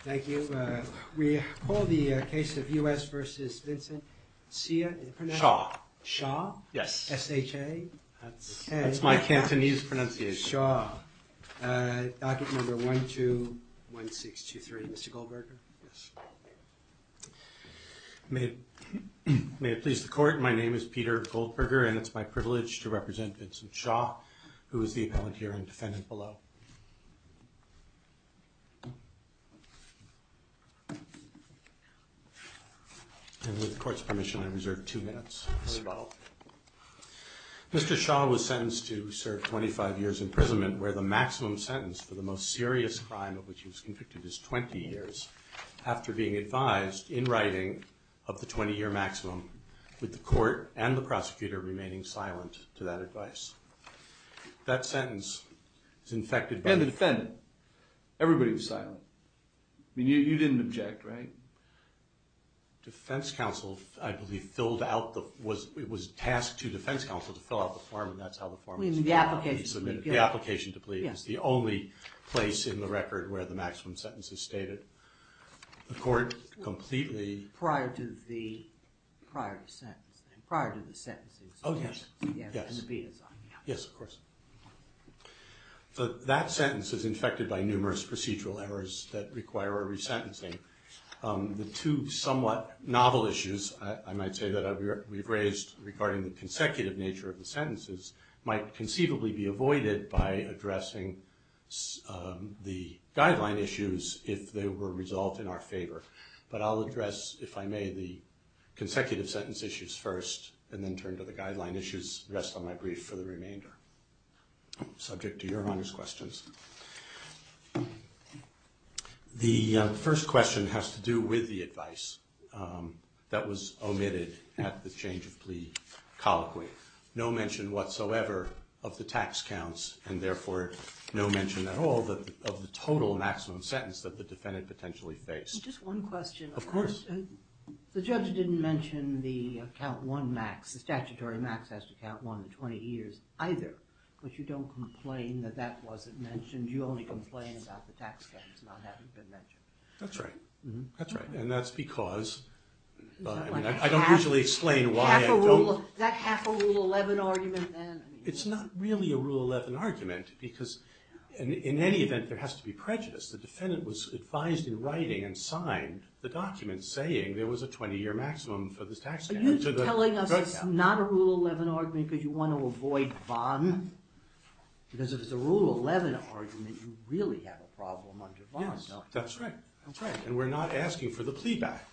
Thank you. We call the case of U.S. v. Vincent Hsia. Hsia. Hsia? S-H-A? That's my Cantonese pronunciation. Hsia. Docket number 121623. Mr. Goldberger. Yes. May it please the court, my name is Peter Goldberger and it's my privilege to represent Vincent Hsia, who is the appellant here and defendant below. And with the court's permission, I reserve two minutes. Mr. Goldberger. Mr. Hsia was sentenced to serve 25 years imprisonment, where the maximum sentence for the most serious crime of which he was convicted is 20 years, after being advised, in writing, of the 20-year maximum, with the court and the prosecutor remaining silent to that advice. That sentence is infected by... And the defendant. Everybody was silent. I mean, you didn't object, right? Defense counsel, I believe, filled out the... it was tasked to defense counsel to fill out the form and that's how the form was... The application to plead. The application to plead. Yes. It's the only place in the record where the maximum sentence is stated. The court completely... Prior to the prior sentence. Prior to the sentence. Oh, yes. Yes, of course. So that sentence is infected by numerous procedural errors that require a resentencing. The two somewhat novel issues I might say that we've raised regarding the consecutive nature of the sentences might conceivably be avoided by addressing the guideline issues if they were resolved in our favor. But I'll address, if I may, the consecutive sentence issues first and then turn to the guideline issues. Rest of my brief for the remainder. Subject to Your Honor's questions. The first question has to do with the advice that was omitted at the change of plea colloquy. No mention whatsoever of the tax counts and therefore no mention at all of the total maximum sentence that the defendant potentially faced. Just one question. Of course. The judge didn't mention the count one max. The statutory max has to count one to 20 years either. But you don't complain that that wasn't mentioned. You only complain about the tax counts not having been mentioned. That's right. That's right. And that's because... I don't usually explain why I don't... Is that half a Rule 11 argument then? It's not really a Rule 11 argument because in any event there has to be prejudice. The defendant was advised in writing and signed the document saying there was a 20-year maximum for the tax... Are you telling us it's not a Rule 11 argument because you want to avoid VON? Because if it's a Rule 11 argument you really have a problem under VON. Yes. That's right. That's right. And we're not asking for the plea back.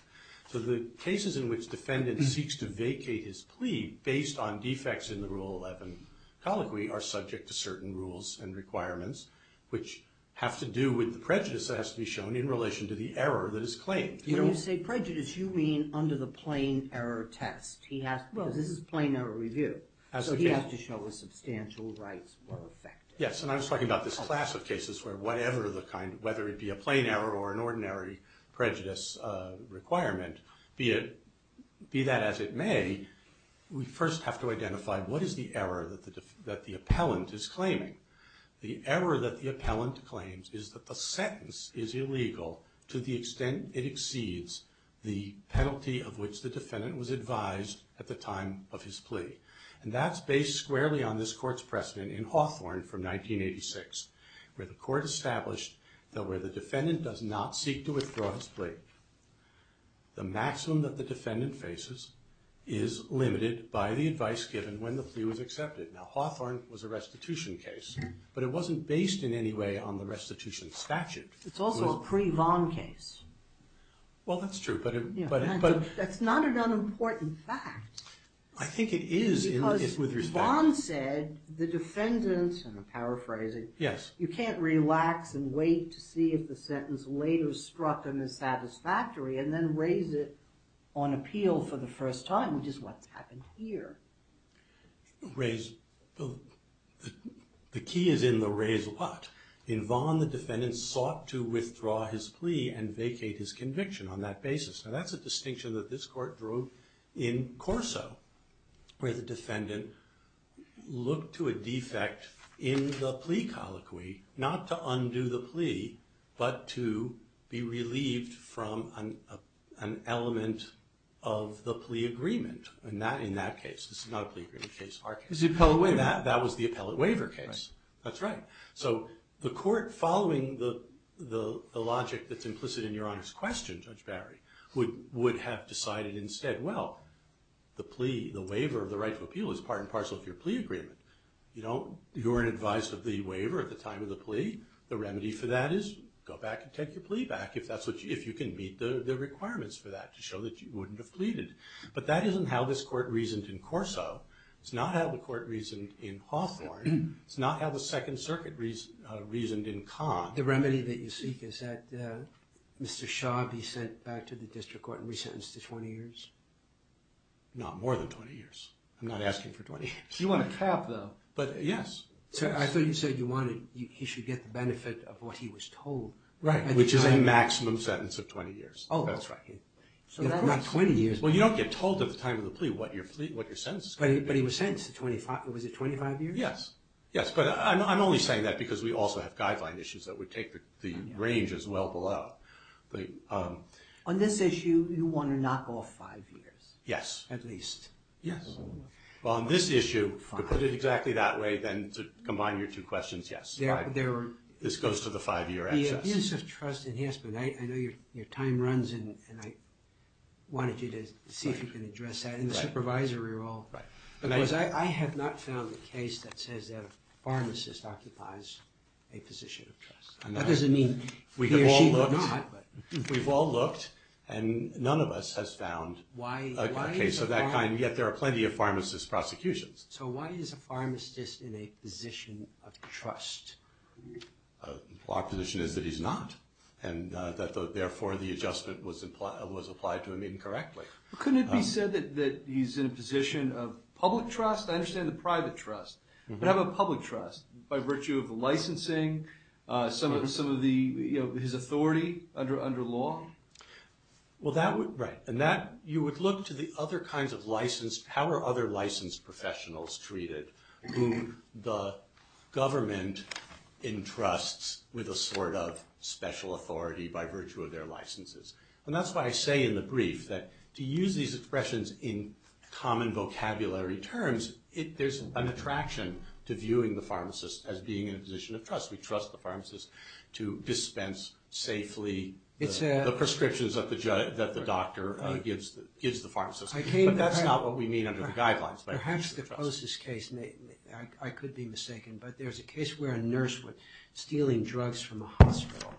So the cases in which the defendant seeks to vacate his plea based on defects in the Rule 11 colloquy are subject to certain rules and requirements which have to do with the prejudice that has to be shown in relation to the error that is claimed. When you say prejudice you mean under the plain error test. Because this is a plain error review. So he has to show that substantial rights were affected. Yes. And I was talking about this class of cases where whatever the kind... whether it be a plain error or an ordinary prejudice requirement, be that as it may, we first have to identify what is the error that the appellant is claiming. The error that the appellant claims is that the sentence is illegal to the extent it exceeds the penalty of which the defendant was advised at the time of his plea. And that's based squarely on this court's precedent in Hawthorne from 1986 where the court established that where the defendant does not seek to withdraw his plea, the maximum that the defendant faces is limited by the advice given when the plea was accepted. Now, Hawthorne was a restitution case, but it wasn't based in any way on the restitution statute. It's also a pre-Vaughn case. Well, that's true, but... That's not an unimportant fact. I think it is with respect... Because Vaughn said the defendant, and I'm paraphrasing, you can't relax and wait to see if the sentence later struck him as satisfactory and then raise it on appeal for the first time, which is what's happened here. The key is in the raise what. In Vaughn, the defendant sought to withdraw his plea and vacate his conviction on that basis. Now, that's a distinction that this court drew in Corso where the defendant looked to a defect in the plea colloquy, not to undo the plea, but to be relieved from an element of the plea agreement. In that case, this is not a plea agreement case. That was the appellate waiver case. That's right. So the court, following the logic that's implicit in your honest question, Judge Barry, would have decided instead, well, the plea, the waiver of the right to appeal is part and parcel of your plea agreement. You weren't advised of the waiver at the time of the plea. The remedy for that is go back and take your plea back if you can meet the requirements for that to show that you wouldn't have pleaded. But that isn't how this court reasoned in Corso. It's not how the court reasoned in Hawthorne. It's not how the Second Circuit reasoned in Conn. The remedy that you seek is that Mr. Shaw be sent back to the district court and resentenced to 20 years? Not more than 20 years. I'm not asking for 20 years. You want a cap, though. But, yes. I thought you said he should get the benefit of what he was told. Right, which is a maximum sentence of 20 years. Oh, that's right. Not 20 years. Well, you don't get told at the time of the plea what your sentence is going to be. But he was sentenced to 25 years? Yes. Yes, but I'm only saying that because we also have guideline issues that would take the range as well below. On this issue, you want to knock off five years? Yes. At least? Yes. Well, on this issue, to put it exactly that way, then to combine your two questions, yes. This goes to the five-year excess. On the abuse of trust in Haspen, I know your time runs, and I wanted you to see if you can address that in the supervisory role. Because I have not found a case that says that a pharmacist occupies a position of trust. That doesn't mean he or she does not. We've all looked, and none of us has found a case of that kind, yet there are plenty of pharmacist prosecutions. So why is a pharmacist in a position of trust? Our position is that he's not, and that, therefore, the adjustment was applied to him incorrectly. Couldn't it be said that he's in a position of public trust? I understand the private trust. But how about public trust, by virtue of licensing, some of his authority under law? Right. You would look to the other kinds of license. How are other licensed professionals treated who the government entrusts with a sort of special authority by virtue of their licenses? And that's why I say in the brief that to use these expressions in common vocabulary terms, there's an attraction to viewing the pharmacist as being in a position of trust. We trust the pharmacist to dispense safely the prescriptions that the doctor gives the pharmacist. But that's not what we mean under the guidelines. Perhaps the closest case, I could be mistaken, but there's a case where a nurse was stealing drugs from a hospital.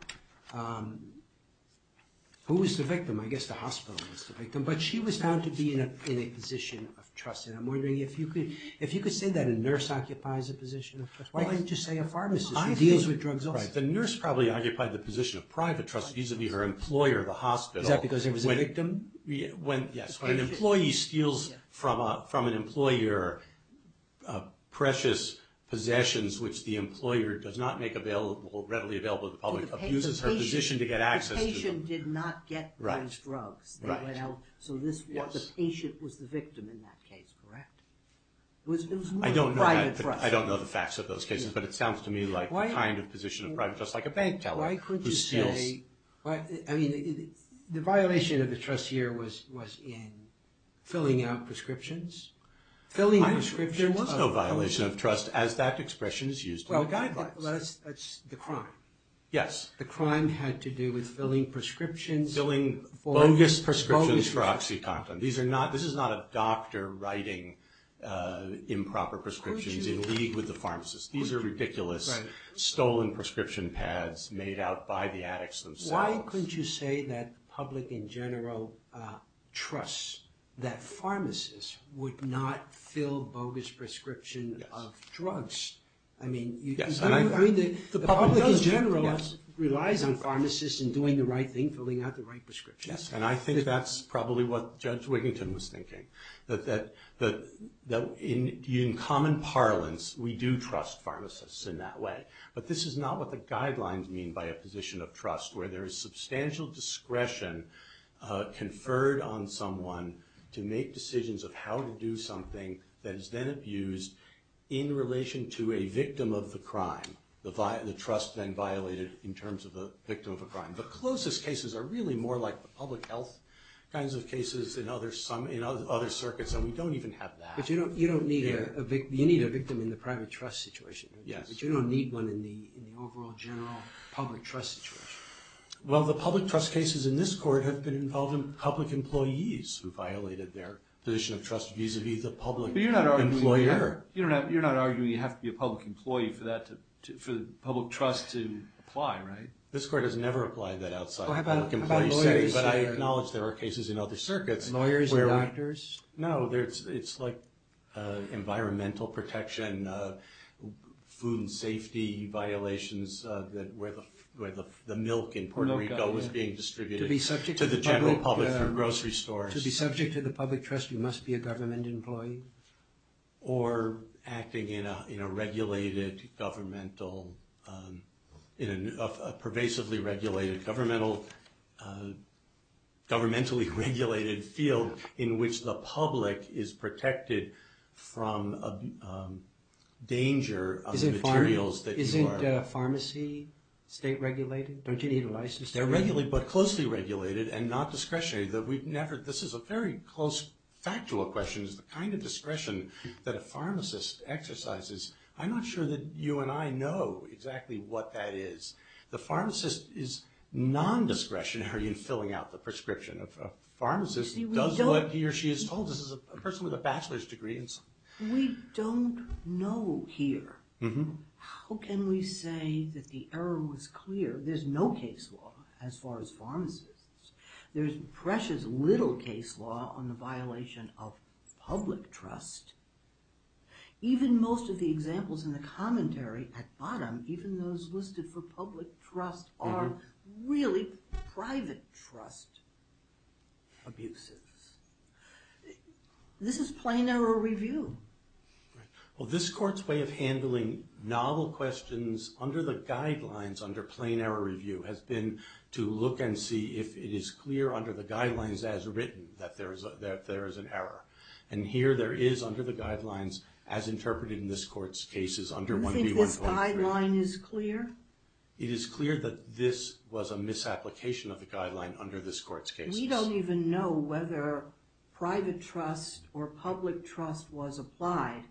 Who was the victim? I guess the hospital was the victim. But she was found to be in a position of trust. And I'm wondering if you could say that a nurse occupies a position of trust. Why can't you just say a pharmacist who deals with drugs also? The nurse probably occupied the position of private trust, vis-à-vis her employer, the hospital. Is that because there was a victim? Yes. When an employee steals from an employer precious possessions, which the employer does not make readily available to the public, abuses her position to get access to them. The patient did not get those drugs. Right. So the patient was the victim in that case, correct? I don't know the facts of those cases, but it sounds to me like the kind of position of private trust, like a bank teller who steals. The violation of the trust here was in filling out prescriptions. There was no violation of trust as that expression is used in the guidelines. Well, that's the crime. Yes. The crime had to do with filling prescriptions. Filling bogus prescriptions for OxyContin. This is not a doctor writing improper prescriptions in league with the pharmacist. These are ridiculous stolen prescription pads made out by the addicts themselves. Why couldn't you say that the public in general trusts that pharmacists would not fill bogus prescriptions of drugs? I mean, the public in general relies on pharmacists in doing the right thing, filling out the right prescriptions. Yes, and I think that's probably what Judge Wiginton was thinking, that in common parlance, we do trust pharmacists in that way. But this is not what the guidelines mean by a position of trust, where there is substantial discretion conferred on someone to make decisions of how to do something that is then abused in relation to a victim of the crime. The trust then violated in terms of the victim of a crime. The closest cases are really more like the public health kinds of cases in other circuits, and we don't even have that. But you don't need a victim in the private trust situation, but you don't need one in the overall general public trust situation. Well, the public trust cases in this court have been involving public employees who violated their position of trust vis-a-vis the public employer. But you're not arguing you have to be a public employee for the public trust to apply, right? This court has never applied that outside of public employee settings, but I acknowledge there are cases in other circuits. Lawyers and doctors? No, it's like environmental protection, food safety violations, where the milk in Puerto Rico is being distributed to the general public through grocery stores. To be subject to the public trust, you must be a government employee? Or acting in a pervasively-regulated, governmentally-regulated field in which the public is protected from danger of the materials that you are. Isn't pharmacy state-regulated? Don't you need a license to do that? They're closely regulated and not discretionary. This is a very close, factual question. The kind of discretion that a pharmacist exercises, I'm not sure that you and I know exactly what that is. The pharmacist is non-discretionary in filling out the prescription. A pharmacist does what he or she is told. This is a person with a bachelor's degree. We don't know here. How can we say that the error was clear? There's no case law as far as pharmacists. There's precious little case law on the violation of public trust. Even most of the examples in the commentary at the bottom, even those listed for public trust, are really private trust abuses. This is plain error review. Well, this court's way of handling novel questions under the guidelines under plain error review has been to look and see if it is clear under the guidelines as written that there is an error. Here there is under the guidelines as interpreted in this court's cases under 1B1.3. You think this guideline is clear? It is clear that this was a misapplication of the guideline under this court's cases. We don't even know whether private trust or public trust was applied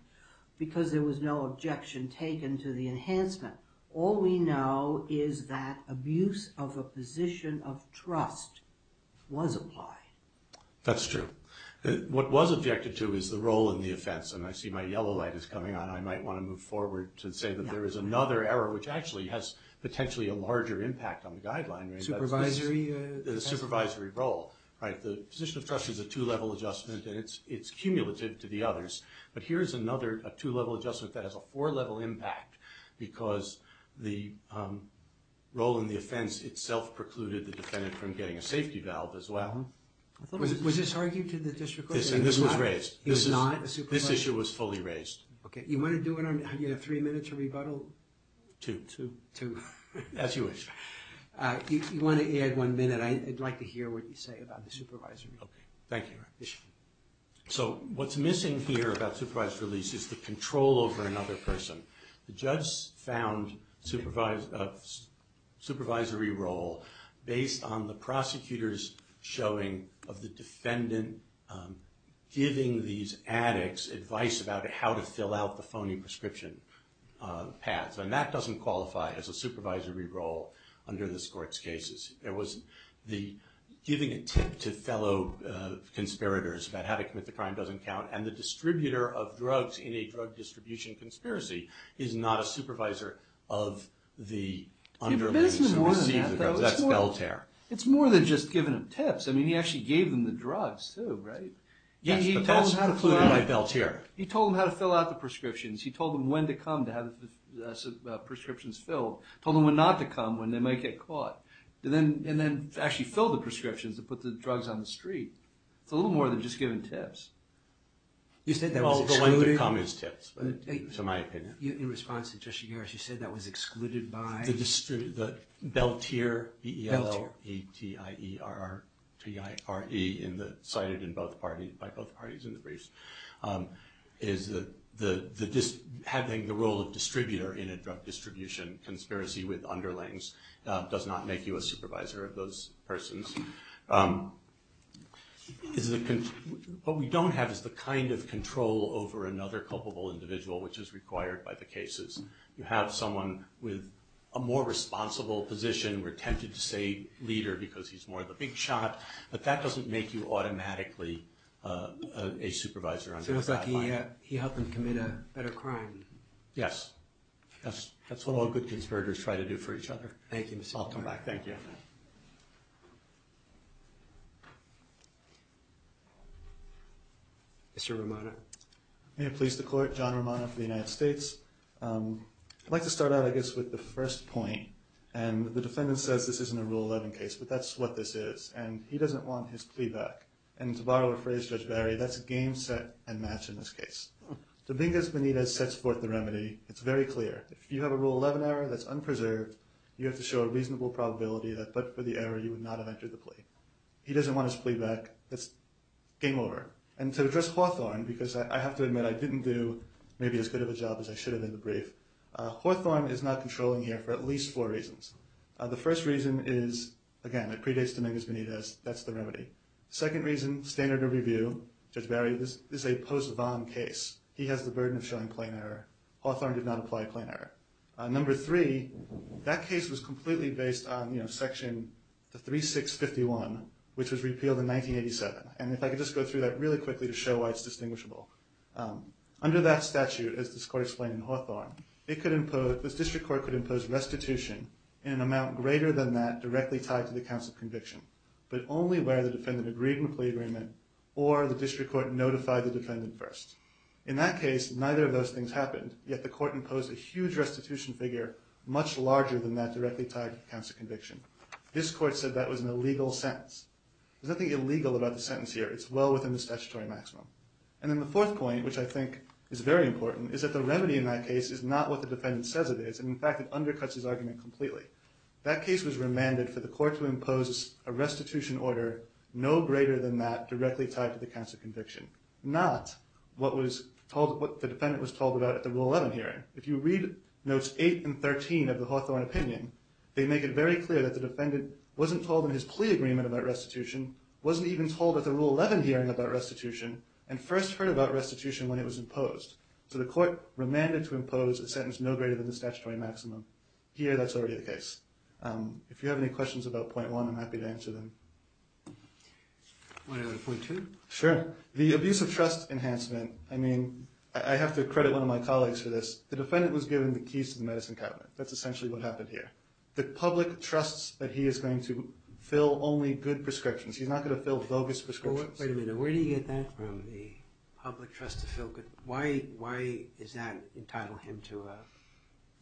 because there was no objection taken to the enhancement. All we know is that abuse of a position of trust was applied. That's true. What was objected to is the role in the offense, and I see my yellow light is coming on. I might want to move forward to say that there is another error which actually has potentially a larger impact on the guideline. Supervisory? The supervisory role. The position of trust is a two-level adjustment, and it's cumulative to the others. But here's another two-level adjustment that has a four-level impact because the role in the offense itself precluded the defendant from getting a safety valve as well. Was this argued to the district court? This was raised. This issue was fully raised. Okay. Do you have three minutes to rebuttal? Two. Two. As you wish. If you want to add one minute, I'd like to hear what you say about the supervisory. Okay. Thank you. So what's missing here about supervised release is the control over another person. The judge found supervisory role based on the prosecutor's showing of the defendant giving these addicts advice about how to fill out the phony prescription pads, and that doesn't qualify as a supervisory role under this court's cases. It was giving a tip to fellow conspirators about how to commit the crime doesn't count, and the distributor of drugs in a drug distribution conspiracy is not a supervisor of the underling. It's more than that, though. It's more than just giving them tips. I mean, he actually gave them the drugs, too, right? Yes, but that's precluded by Belter. He told them how to fill out the prescriptions. He told them when to come to have the prescriptions filled, told them when not to come, when they might get caught, and then actually filled the prescriptions to put the drugs on the street. It's a little more than just giving tips. You said that was excluded. Well, the when to come is tips, to my opinion. In response to Justice Garris, you said that was excluded by? The Belter, B-E-L-T-E-R-T-I-R-E, cited by both parties in the briefs, is having the role of distributor in a drug distribution conspiracy with underlings does not make you a supervisor of those persons. What we don't have is the kind of control over another culpable individual which is required by the cases. You have someone with a more responsible position. We're tempted to say leader because he's more of the big shot, but that doesn't make you automatically a supervisor. So it's like he helped them commit a better crime. Yes. That's what all good conspirators try to do for each other. Thank you, Mr. Garris. I'll come back. Thank you. Mr. Romano. May it please the Court, John Romano for the United States. I'd like to start out, I guess, with the first point, and the defendant says this isn't a Rule 11 case, but that's what this is, and he doesn't want his plea back. And to borrow a phrase, Judge Barry, that's a game set and match in this case. Dominguez-Benitez sets forth the remedy. It's very clear. If you have a Rule 11 error that's unpreserved, you have to show a reasonable probability that, but for the error, you would not have entered the plea. He doesn't want his plea back. It's game over. And to address Hawthorne, because I have to admit, I didn't do maybe as good of a job as I should have in the brief, Hawthorne is not controlling here for at least four reasons. The first reason is, again, it predates Dominguez-Benitez. That's the remedy. Second reason, standard of review, Judge Barry, this is a post-vom case. He has the burden of showing plain error. Hawthorne did not apply plain error. Number three, that case was completely based on Section 3651, which was repealed in 1987. And if I could just go through that really quickly to show why it's distinguishable. Under that statute, as this court explained in Hawthorne, this district court could impose restitution in an amount greater than that directly tied to the counts of conviction, but only where the defendant agreed in the plea agreement or the district court notified the defendant first. In that case, neither of those things happened, yet the court imposed a huge restitution figure much larger than that directly tied to the counts of conviction. This court said that was an illegal sentence. There's nothing illegal about the sentence here. It's well within the statutory maximum. And then the fourth point, which I think is very important, is that the remedy in that case is not what the defendant says it is, and, in fact, it undercuts his argument completely. That case was remanded for the court to impose a restitution order no greater than that directly tied to the counts of conviction, not what the defendant was told about at the Rule 11 hearing. If you read Notes 8 and 13 of the Hawthorne opinion, they make it very clear that the defendant wasn't told in his plea agreement about restitution, wasn't even told at the Rule 11 hearing about restitution, and first heard about restitution when it was imposed. So the court remanded to impose a sentence no greater than the statutory maximum. Here, that's already the case. If you have any questions about Point 1, I'm happy to answer them. Want to go to Point 2? Sure. The abuse of trust enhancement, I mean, I have to credit one of my colleagues for this. The defendant was given the keys to the medicine cabinet. That's essentially what happened here. The public trusts that he is going to fill only good prescriptions. He's not going to fill bogus prescriptions. Wait a minute. Where do you get that from, the public trust to fill good? Why is that entitled him to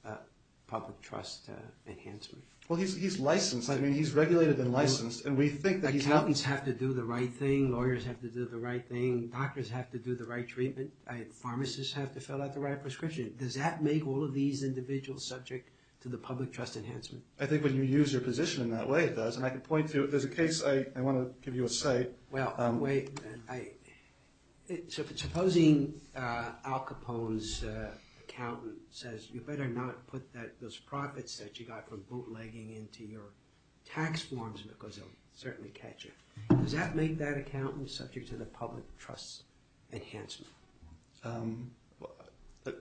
a public trust enhancement? Well, he's licensed. I mean, he's regulated and licensed, and we think that he's not. Accountants have to do the right thing. Lawyers have to do the right thing. Doctors have to do the right treatment. Pharmacists have to fill out the right prescription. Does that make all of these individuals subject to the public trust enhancement? I think when you use your position in that way, it does. And I can point to it. There's a case I want to give you a cite. Well, wait. Supposing Al Capone's accountant says, you better not put those profits that you got from bootlegging into your tax forms because they'll certainly catch you. Does that make that accountant subject to the public trust enhancement?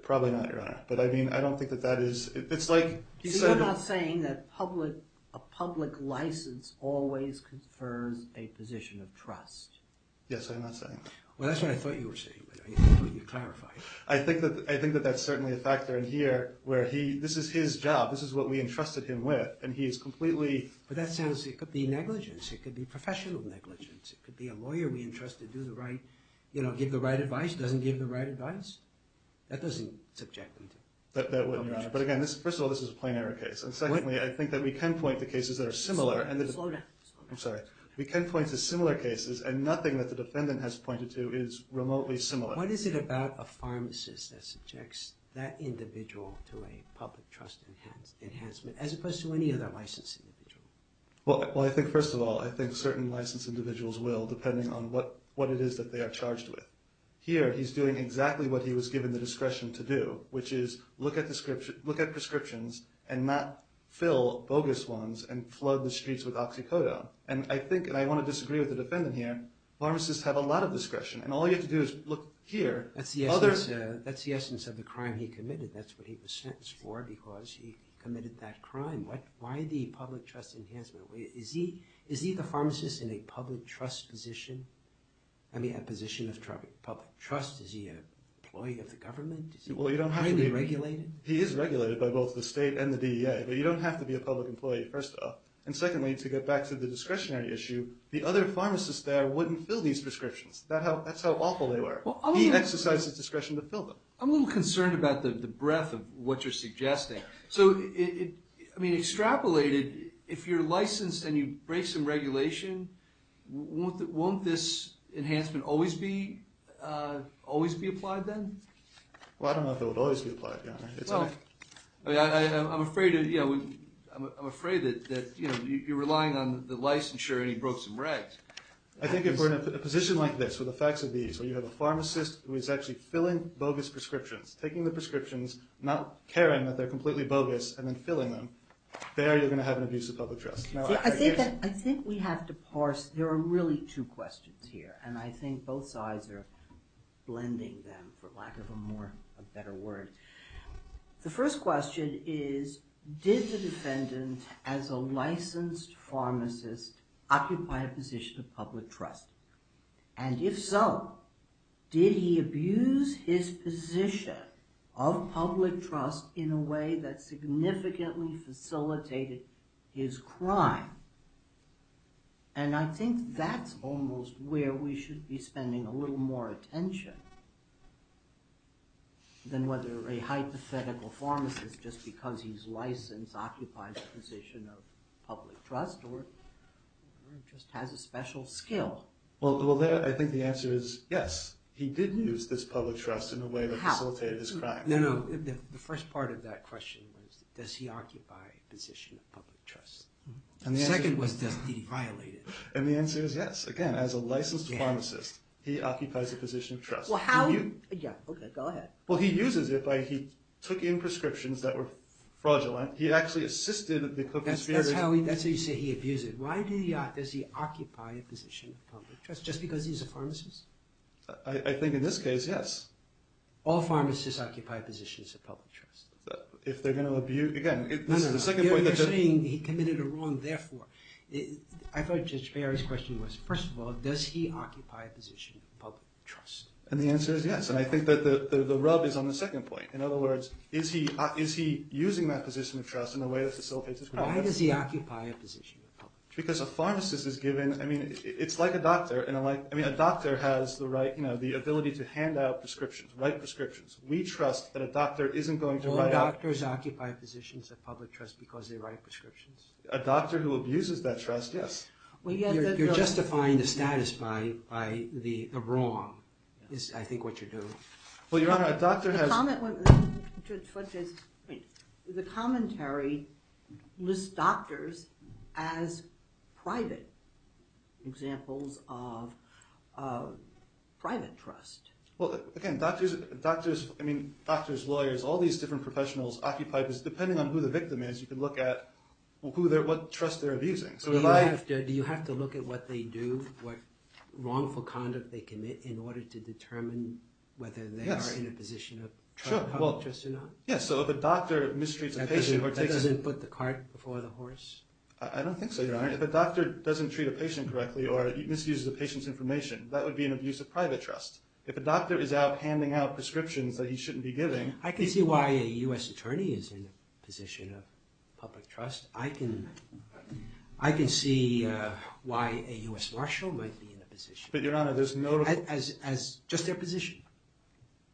Probably not, Your Honor. But, I mean, I don't think that that is – it's like – He's not saying that a public license always confers a position of trust. Yes, I'm not saying that. Well, that's what I thought you were saying, but I thought you clarified it. I think that that's certainly a factor in here where he – this is his job. This is what we entrusted him with, and he is completely – But that sounds – it could be negligence. It could be professional negligence. It could be a lawyer we entrusted do the right – give the right advice, doesn't give the right advice. That doesn't subject them to public trust. But, again, first of all, this is a plain error case. And, secondly, I think that we can point to cases that are similar. Slow down. I'm sorry. We can point to similar cases, and nothing that the defendant has pointed to is remotely similar. What is it about a pharmacist that subjects that individual to a public trust enhancement, as opposed to any other licensed individual? Well, I think, first of all, I think certain licensed individuals will, depending on what it is that they are charged with. Here, he's doing exactly what he was given the discretion to do, which is look at prescriptions and not fill bogus ones and flood the streets with oxycodone. And I think, and I want to disagree with the defendant here, pharmacists have a lot of discretion. And all you have to do is look here. That's the essence of the crime he committed. That's what he was sentenced for because he committed that crime. Why the public trust enhancement? Is he the pharmacist in a public trust position? I mean, a position of public trust? Is he an employee of the government? Is he highly regulated? He is regulated by both the state and the DEA. But you don't have to be a public employee, first off. And, secondly, to get back to the discretionary issue, the other pharmacists there wouldn't fill these prescriptions. That's how awful they were. He exercised his discretion to fill them. I'm a little concerned about the breadth of what you're suggesting. So, I mean, extrapolated, if you're licensed and you break some regulation, won't this enhancement always be applied then? Well, I don't know if it would always be applied, Your Honor. I'm afraid that you're relying on the licensure and he broke some regs. I think if we're in a position like this, with the facts of these, where you have a pharmacist who is actually filling bogus prescriptions, taking the prescriptions, not caring that they're completely bogus, and then filling them, there you're going to have an abuse of public trust. I think we have to parse. There are really two questions here, and I think both sides are blending them, for lack of a better word. The first question is, did the defendant, as a licensed pharmacist, occupy a position of public trust? And if so, did he abuse his position of public trust in a way that significantly facilitated his crime? And I think that's almost where we should be spending a little more attention than whether a hypothetical pharmacist, just because he's licensed, occupies a position of public trust, or just has a special skill. Well, I think the answer is yes. He did use this public trust in a way that facilitated his crime. No, no, the first part of that question was, does he occupy a position of public trust? The second was, does he violate it? And the answer is yes. Again, as a licensed pharmacist, he occupies a position of trust. Well, he uses it. He took in prescriptions that were fraudulent. He actually assisted the co-conspirators. That's how you say he abused it. Why does he occupy a position of public trust? Just because he's a pharmacist? I think in this case, yes. All pharmacists occupy positions of public trust. If they're going to abuse... You're saying he committed a wrong therefore. I thought Judge Barry's question was, first of all, does he occupy a position of public trust? And the answer is yes. And I think that the rub is on the second point. In other words, is he using that position of trust in a way that facilitates his crime? Why does he occupy a position of public trust? Because a pharmacist is given... I mean, it's like a doctor. I mean, a doctor has the ability to hand out prescriptions, write prescriptions. We trust that a doctor isn't going to write out... All doctors occupy positions of public trust because they write prescriptions. A doctor who abuses that trust, yes. You're justifying the status by the wrong is, I think, what you're doing. Well, Your Honor, a doctor has... The commentary lists doctors as private examples of private trust. Well, again, doctors, lawyers, all these different professionals occupy... Depending on who the victim is, you can look at what trust they're abusing. Do you have to look at what they do, what wrongful conduct they commit, in order to determine whether they are in a position of public trust or not? Yes, so if a doctor mistreats a patient... That doesn't put the cart before the horse? I don't think so, Your Honor. If a doctor doesn't treat a patient correctly or misuses a patient's information, that would be an abuse of private trust. If a doctor is out handing out prescriptions that he shouldn't be giving... I can see why a U.S. attorney is in a position of public trust. I can see why a U.S. marshal might be in a position... But, Your Honor, there's no... Just their position.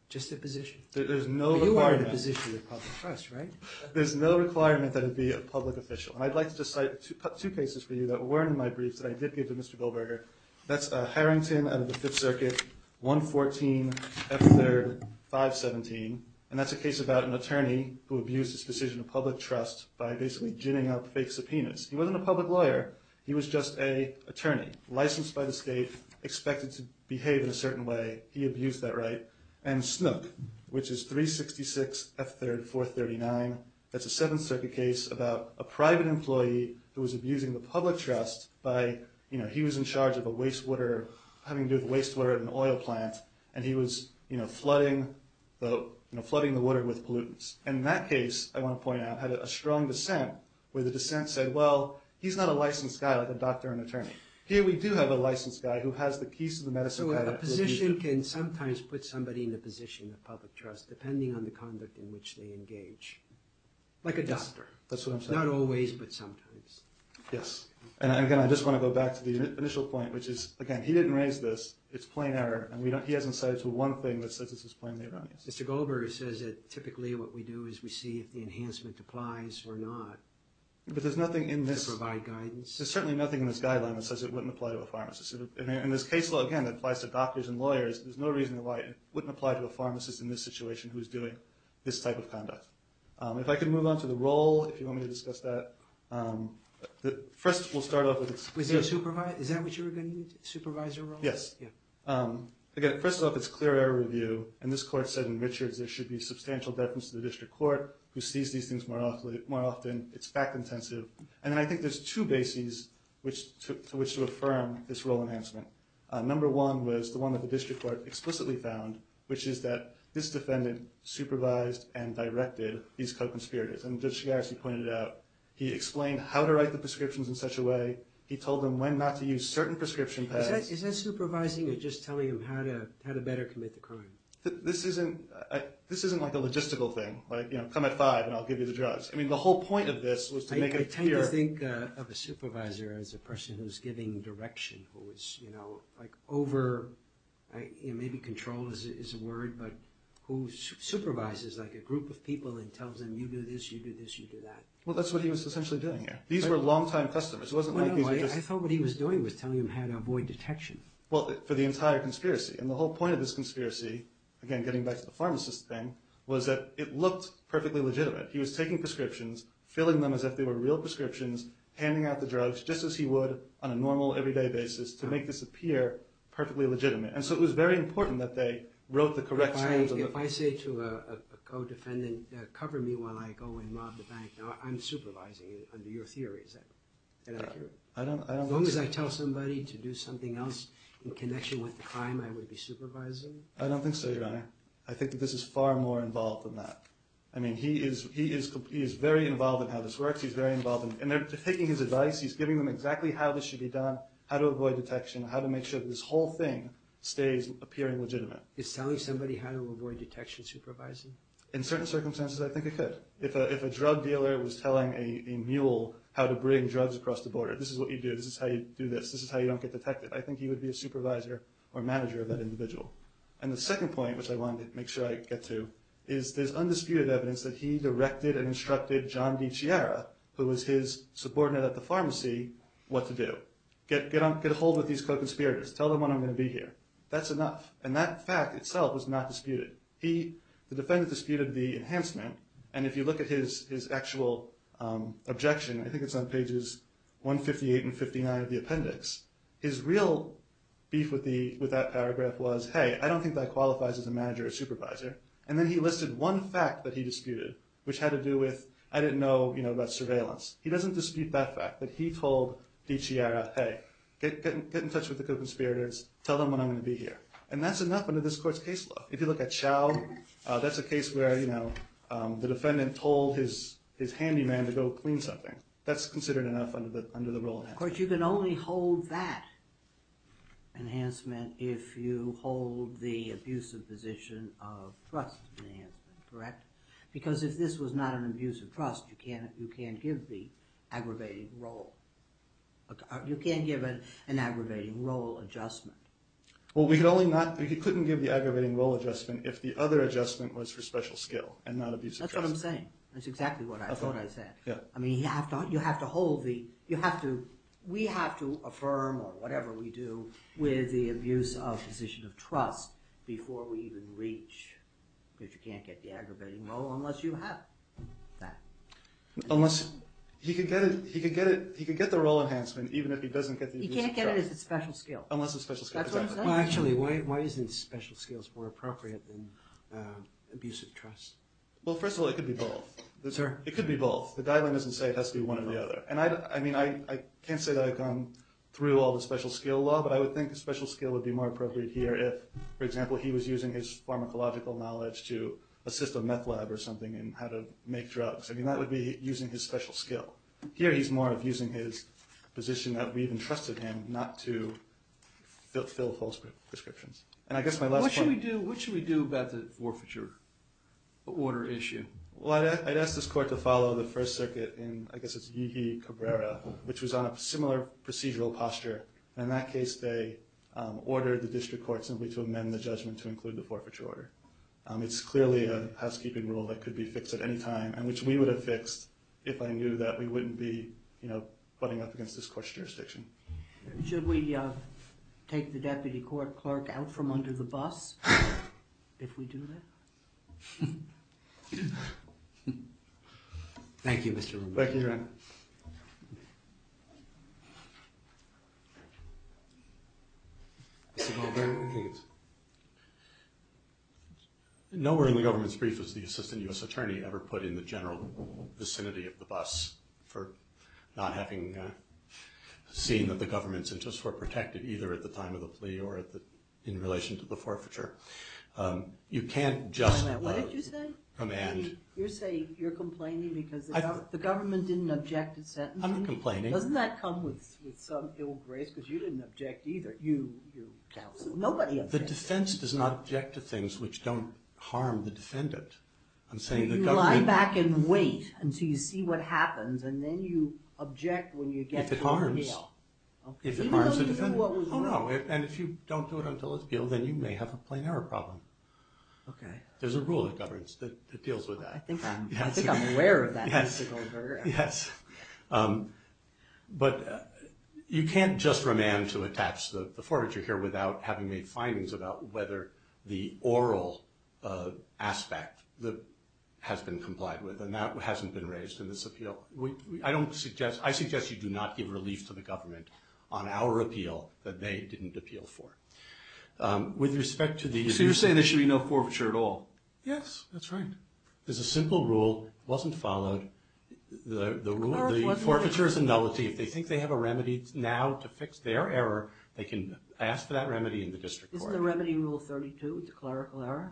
Just their position. There's no requirement... But you are in a position of public trust, right? There's no requirement that it be a public official. And I'd like to cite two cases for you that weren't in my briefs that I did give to Mr. Goldberger. That's Harrington out of the Fifth Circuit, 114 F. 3rd, 517. And that's a case about an attorney who abused his decision of public trust by basically ginning up fake subpoenas. He wasn't a public lawyer. He was just a attorney, licensed by the state, expected to behave in a certain way. He abused that right. And Snook, which is 366 F. 3rd, 439. That's a Seventh Circuit case about a private employee who was abusing the public trust by... You know, he was in charge of a wastewater... And he was, you know, flooding the water with pollutants. And that case, I want to point out, had a strong dissent where the dissent said, well, he's not a licensed guy like a doctor and attorney. Here we do have a licensed guy who has the keys to the medicine cabinet... So a position can sometimes put somebody in a position of public trust depending on the conduct in which they engage. Like a doctor. That's what I'm saying. Not always, but sometimes. Yes. And again, I just want to go back to the initial point, which is, again, he didn't raise this. It's plain error. And he hasn't cited one thing that says this is plainly erroneous. Mr. Goldberg says that typically what we do is we see if the enhancement applies or not. But there's nothing in this... To provide guidance. There's certainly nothing in this guideline that says it wouldn't apply to a pharmacist. And this case law, again, that applies to doctors and lawyers, there's no reason why it wouldn't apply to a pharmacist in this situation who's doing this type of conduct. If I could move on to the role, if you want me to discuss that. First, we'll start off with... Is that what you were going to use? Supervisor role? Yes. Again, first off, it's clear error review. And this court said in Richards there should be substantial deference to the district court who sees these things more often. It's fact-intensive. And then I think there's two bases to which to affirm this role enhancement. Number one was the one that the district court explicitly found, which is that this defendant supervised and directed these co-conspirators. And Judge Chigaresi pointed it out. He explained how to write the prescriptions in such a way. He told them when not to use certain prescription pads. Is that supervising or just telling them how to better commit the crime? This isn't like a logistical thing. Like, you know, come at 5 and I'll give you the drugs. I mean, the whole point of this was to make it clear... I tend to think of a supervisor as a person who's giving direction, who is, you know, like over... Maybe control is a word, but who supervises, like, a group of people and tells them, you do this, you do this, you do that. Well, that's what he was essentially doing here. These were long-time customers. I thought what he was doing was telling them how to avoid detection. Well, for the entire conspiracy. And the whole point of this conspiracy, again, getting back to the pharmacist thing, was that it looked perfectly legitimate. He was taking prescriptions, filling them as if they were real prescriptions, handing out the drugs just as he would on a normal, everyday basis to make this appear perfectly legitimate. And so it was very important that they wrote the correct... If I say to a co-defendant, cover me while I go and rob the bank, I'm supervising under your theory. Is that accurate? As long as I tell somebody to do something else in connection with the crime, I would be supervising? I don't think so, Your Honor. I think that this is far more involved than that. I mean, he is very involved in how this works, he's very involved in... And they're taking his advice, he's giving them exactly how this should be done, how to avoid detection, how to make sure that this whole thing stays appearing legitimate. Is telling somebody how to avoid detection supervising? In certain circumstances, I think it could. If a drug dealer was telling a mule how to bring drugs across the border, this is what you do, this is how you do this, this is how you don't get detected, I think he would be a supervisor or manager of that individual. And the second point, which I wanted to make sure I get to, is there's undisputed evidence that he directed and instructed John DiCiara, who was his subordinate at the pharmacy, what to do. Get a hold of these co-conspirators, tell them when I'm going to be here. That's enough. And that fact itself was not disputed. The defendant disputed the enhancement, and if you look at his actual objection, I think it's on pages 158 and 59 of the appendix, his real beef with that paragraph was, hey, I don't think that qualifies as a manager or supervisor. And then he listed one fact that he disputed, which had to do with, I didn't know about surveillance. He doesn't dispute that fact, that he told DiCiara, hey, get in touch with the co-conspirators, tell them when I'm going to be here. And that's enough under this court's case law. If you look at Chao, that's a case where, you know, the defendant told his handyman to go clean something. That's considered enough under the rule. Of course, you can only hold that enhancement if you hold the abusive position of trust enhancement, correct? Because if this was not an abusive trust, you can't give the aggravating role. You can't give an aggravating role adjustment. Well, we could only not, we couldn't give the aggravating role adjustment if the other adjustment was for special skill and not abusive trust. That's what I'm saying. That's exactly what I said. I mean, you have to hold the, you have to, we have to affirm, or whatever we do, with the abuse of position of trust before we even reach, if you can't get the aggravating role, unless you have that. Unless, he could get it, he could get the role enhancement, even if he doesn't get the abusive trust. He can't get it if it's special skill. Unless it's special skill, exactly. Well, actually, why isn't special skills more appropriate than abusive trust? Well, first of all, it could be both. It could be both. The guideline doesn't say it has to be one or the other. And I mean, I can't say that I've gone through all the special skill law, but I would think the special skill would be more appropriate here if, for example, he was using his pharmacological knowledge to assist a meth lab or something in how to make drugs. I mean, that would be using his special skill. Here, he's more of using his position that we've entrusted him not to fulfill false prescriptions. And I guess my last point... What should we do about the forfeiture order issue? Well, I'd ask this court to follow the First Circuit in, I guess it's Yeehee Cabrera, which was on a similar procedural posture. And in that case, they ordered the district court simply to amend the judgment to include the forfeiture order. It's clearly a housekeeping rule that could be fixed at any time, and which we would have fixed if I knew that we wouldn't be, you know, butting up against this court's jurisdiction. Should we take the deputy clerk out from under the bus if we do that? Thank you, Mr. Rubin. Nowhere in the government's brief was the assistant U.S. attorney ever put in the general vicinity of the bus for not having seen that the government's interests were protected either at the time of the plea or in relation to the forfeiture. You can't just... What did you say? Command. You're saying you're complaining because the government didn't object to sentencing? I'm not complaining. Doesn't that come with some ill grace? Because you didn't object either. You, your counsel. Nobody objected. The defense does not object to things which don't harm the defendant. I'm saying the government... You lie back and wait until you see what happens and then you object when you get to the appeal. If it harms. Even though you can do what was wrong. Oh no. And if you don't do it until it's appealed then you may have a plain error problem. Okay. There's a rule of governance that deals with that. I think I'm aware of that. Yes. Yes. But you can't just remand to attach the forfeiture here without having made findings about whether the oral aspect that has been complied with and that hasn't been raised in this appeal. I don't suggest... I suggest you do not give relief to the government on our appeal that they didn't appeal for. With respect to the... So you're saying there should be no forfeiture at all? Yes. That's right. There's a simple rule. It wasn't followed. The rule... The forfeiture is a nullity. If they think they have a remedy now to fix their error they can ask for that remedy in the district court. Isn't the remedy rule 32? It's a clerical error?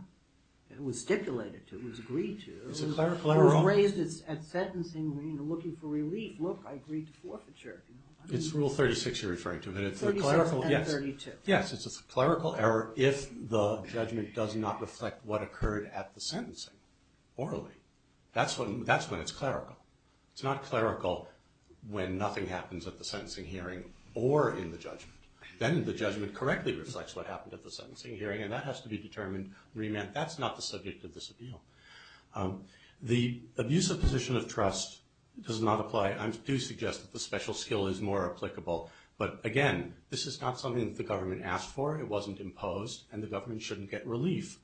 It was stipulated to. It was agreed to. It was raised at sentencing looking for relief. Look, I agreed to forfeiture. It's rule 36 you're referring to. But it's a clerical... 36 and 32. Yes, it's a clerical error if the judgment does not reflect what occurred at the sentencing orally. That's when it's clerical. It's not clerical when nothing happens at the sentencing hearing or in the judgment. Then the judgment correctly reflects what happened at the sentencing hearing and that has to be determined remand. That's not the subject of this appeal. The abusive position of trust does not apply. I do suggest that the special skill is more applicable. But again, this is not something that the government asked for. It wasn't imposed and the government shouldn't get relief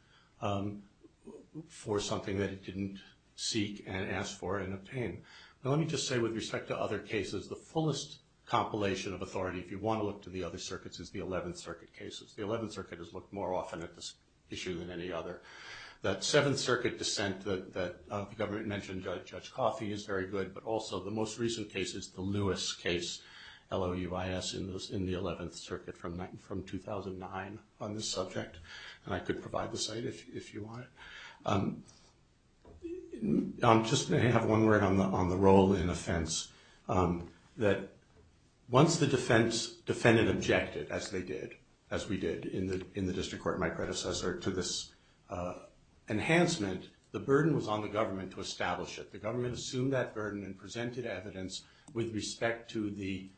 for something that it didn't seek and ask for and obtain. Now let me just say with respect to other cases the fullest compilation of authority if you want to look to the other circuits is the 11th Circuit cases. The 11th Circuit has looked more often at this issue than any other. That 7th Circuit dissent that the government mentioned Judge Coffey is very good but also the most recent case is the Lewis case L-O-U-I-S in the 11th Circuit from 2009 on this subject. And I could provide the site if you want. I'm just going to have one word on the role in offense that once the defense defendant objected as they did as we did in the district court my predecessor to this enhancement the burden was on the government to establish it. The government assumed that burden and presented evidence with respect to the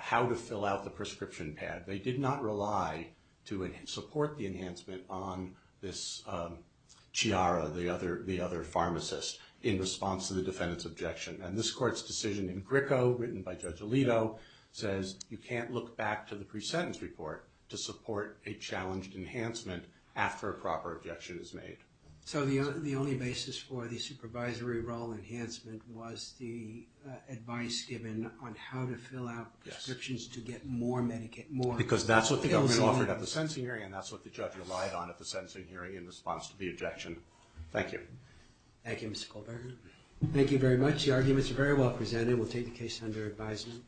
how to fill out the prescription pad. They did not rely to support the enhancement on this Chiara the other pharmacist in response to the defendant's objection. And this court's decision in Gricko written by Judge Alito says you can't look back to the pre-sentence report to support a challenged enhancement after a proper objection is made. So the only basis for the supervisory role enhancement was the advice given on how to fill out prescriptions to get more Medicaid more. Because that's what the government offered at the sentencing hearing and that's what the judge relied on at the sentencing hearing in response to the objection. Thank you. Thank you, Mr. Kohlberger. Thank you very much. The arguments are very well presented. We'll take the case under advisement.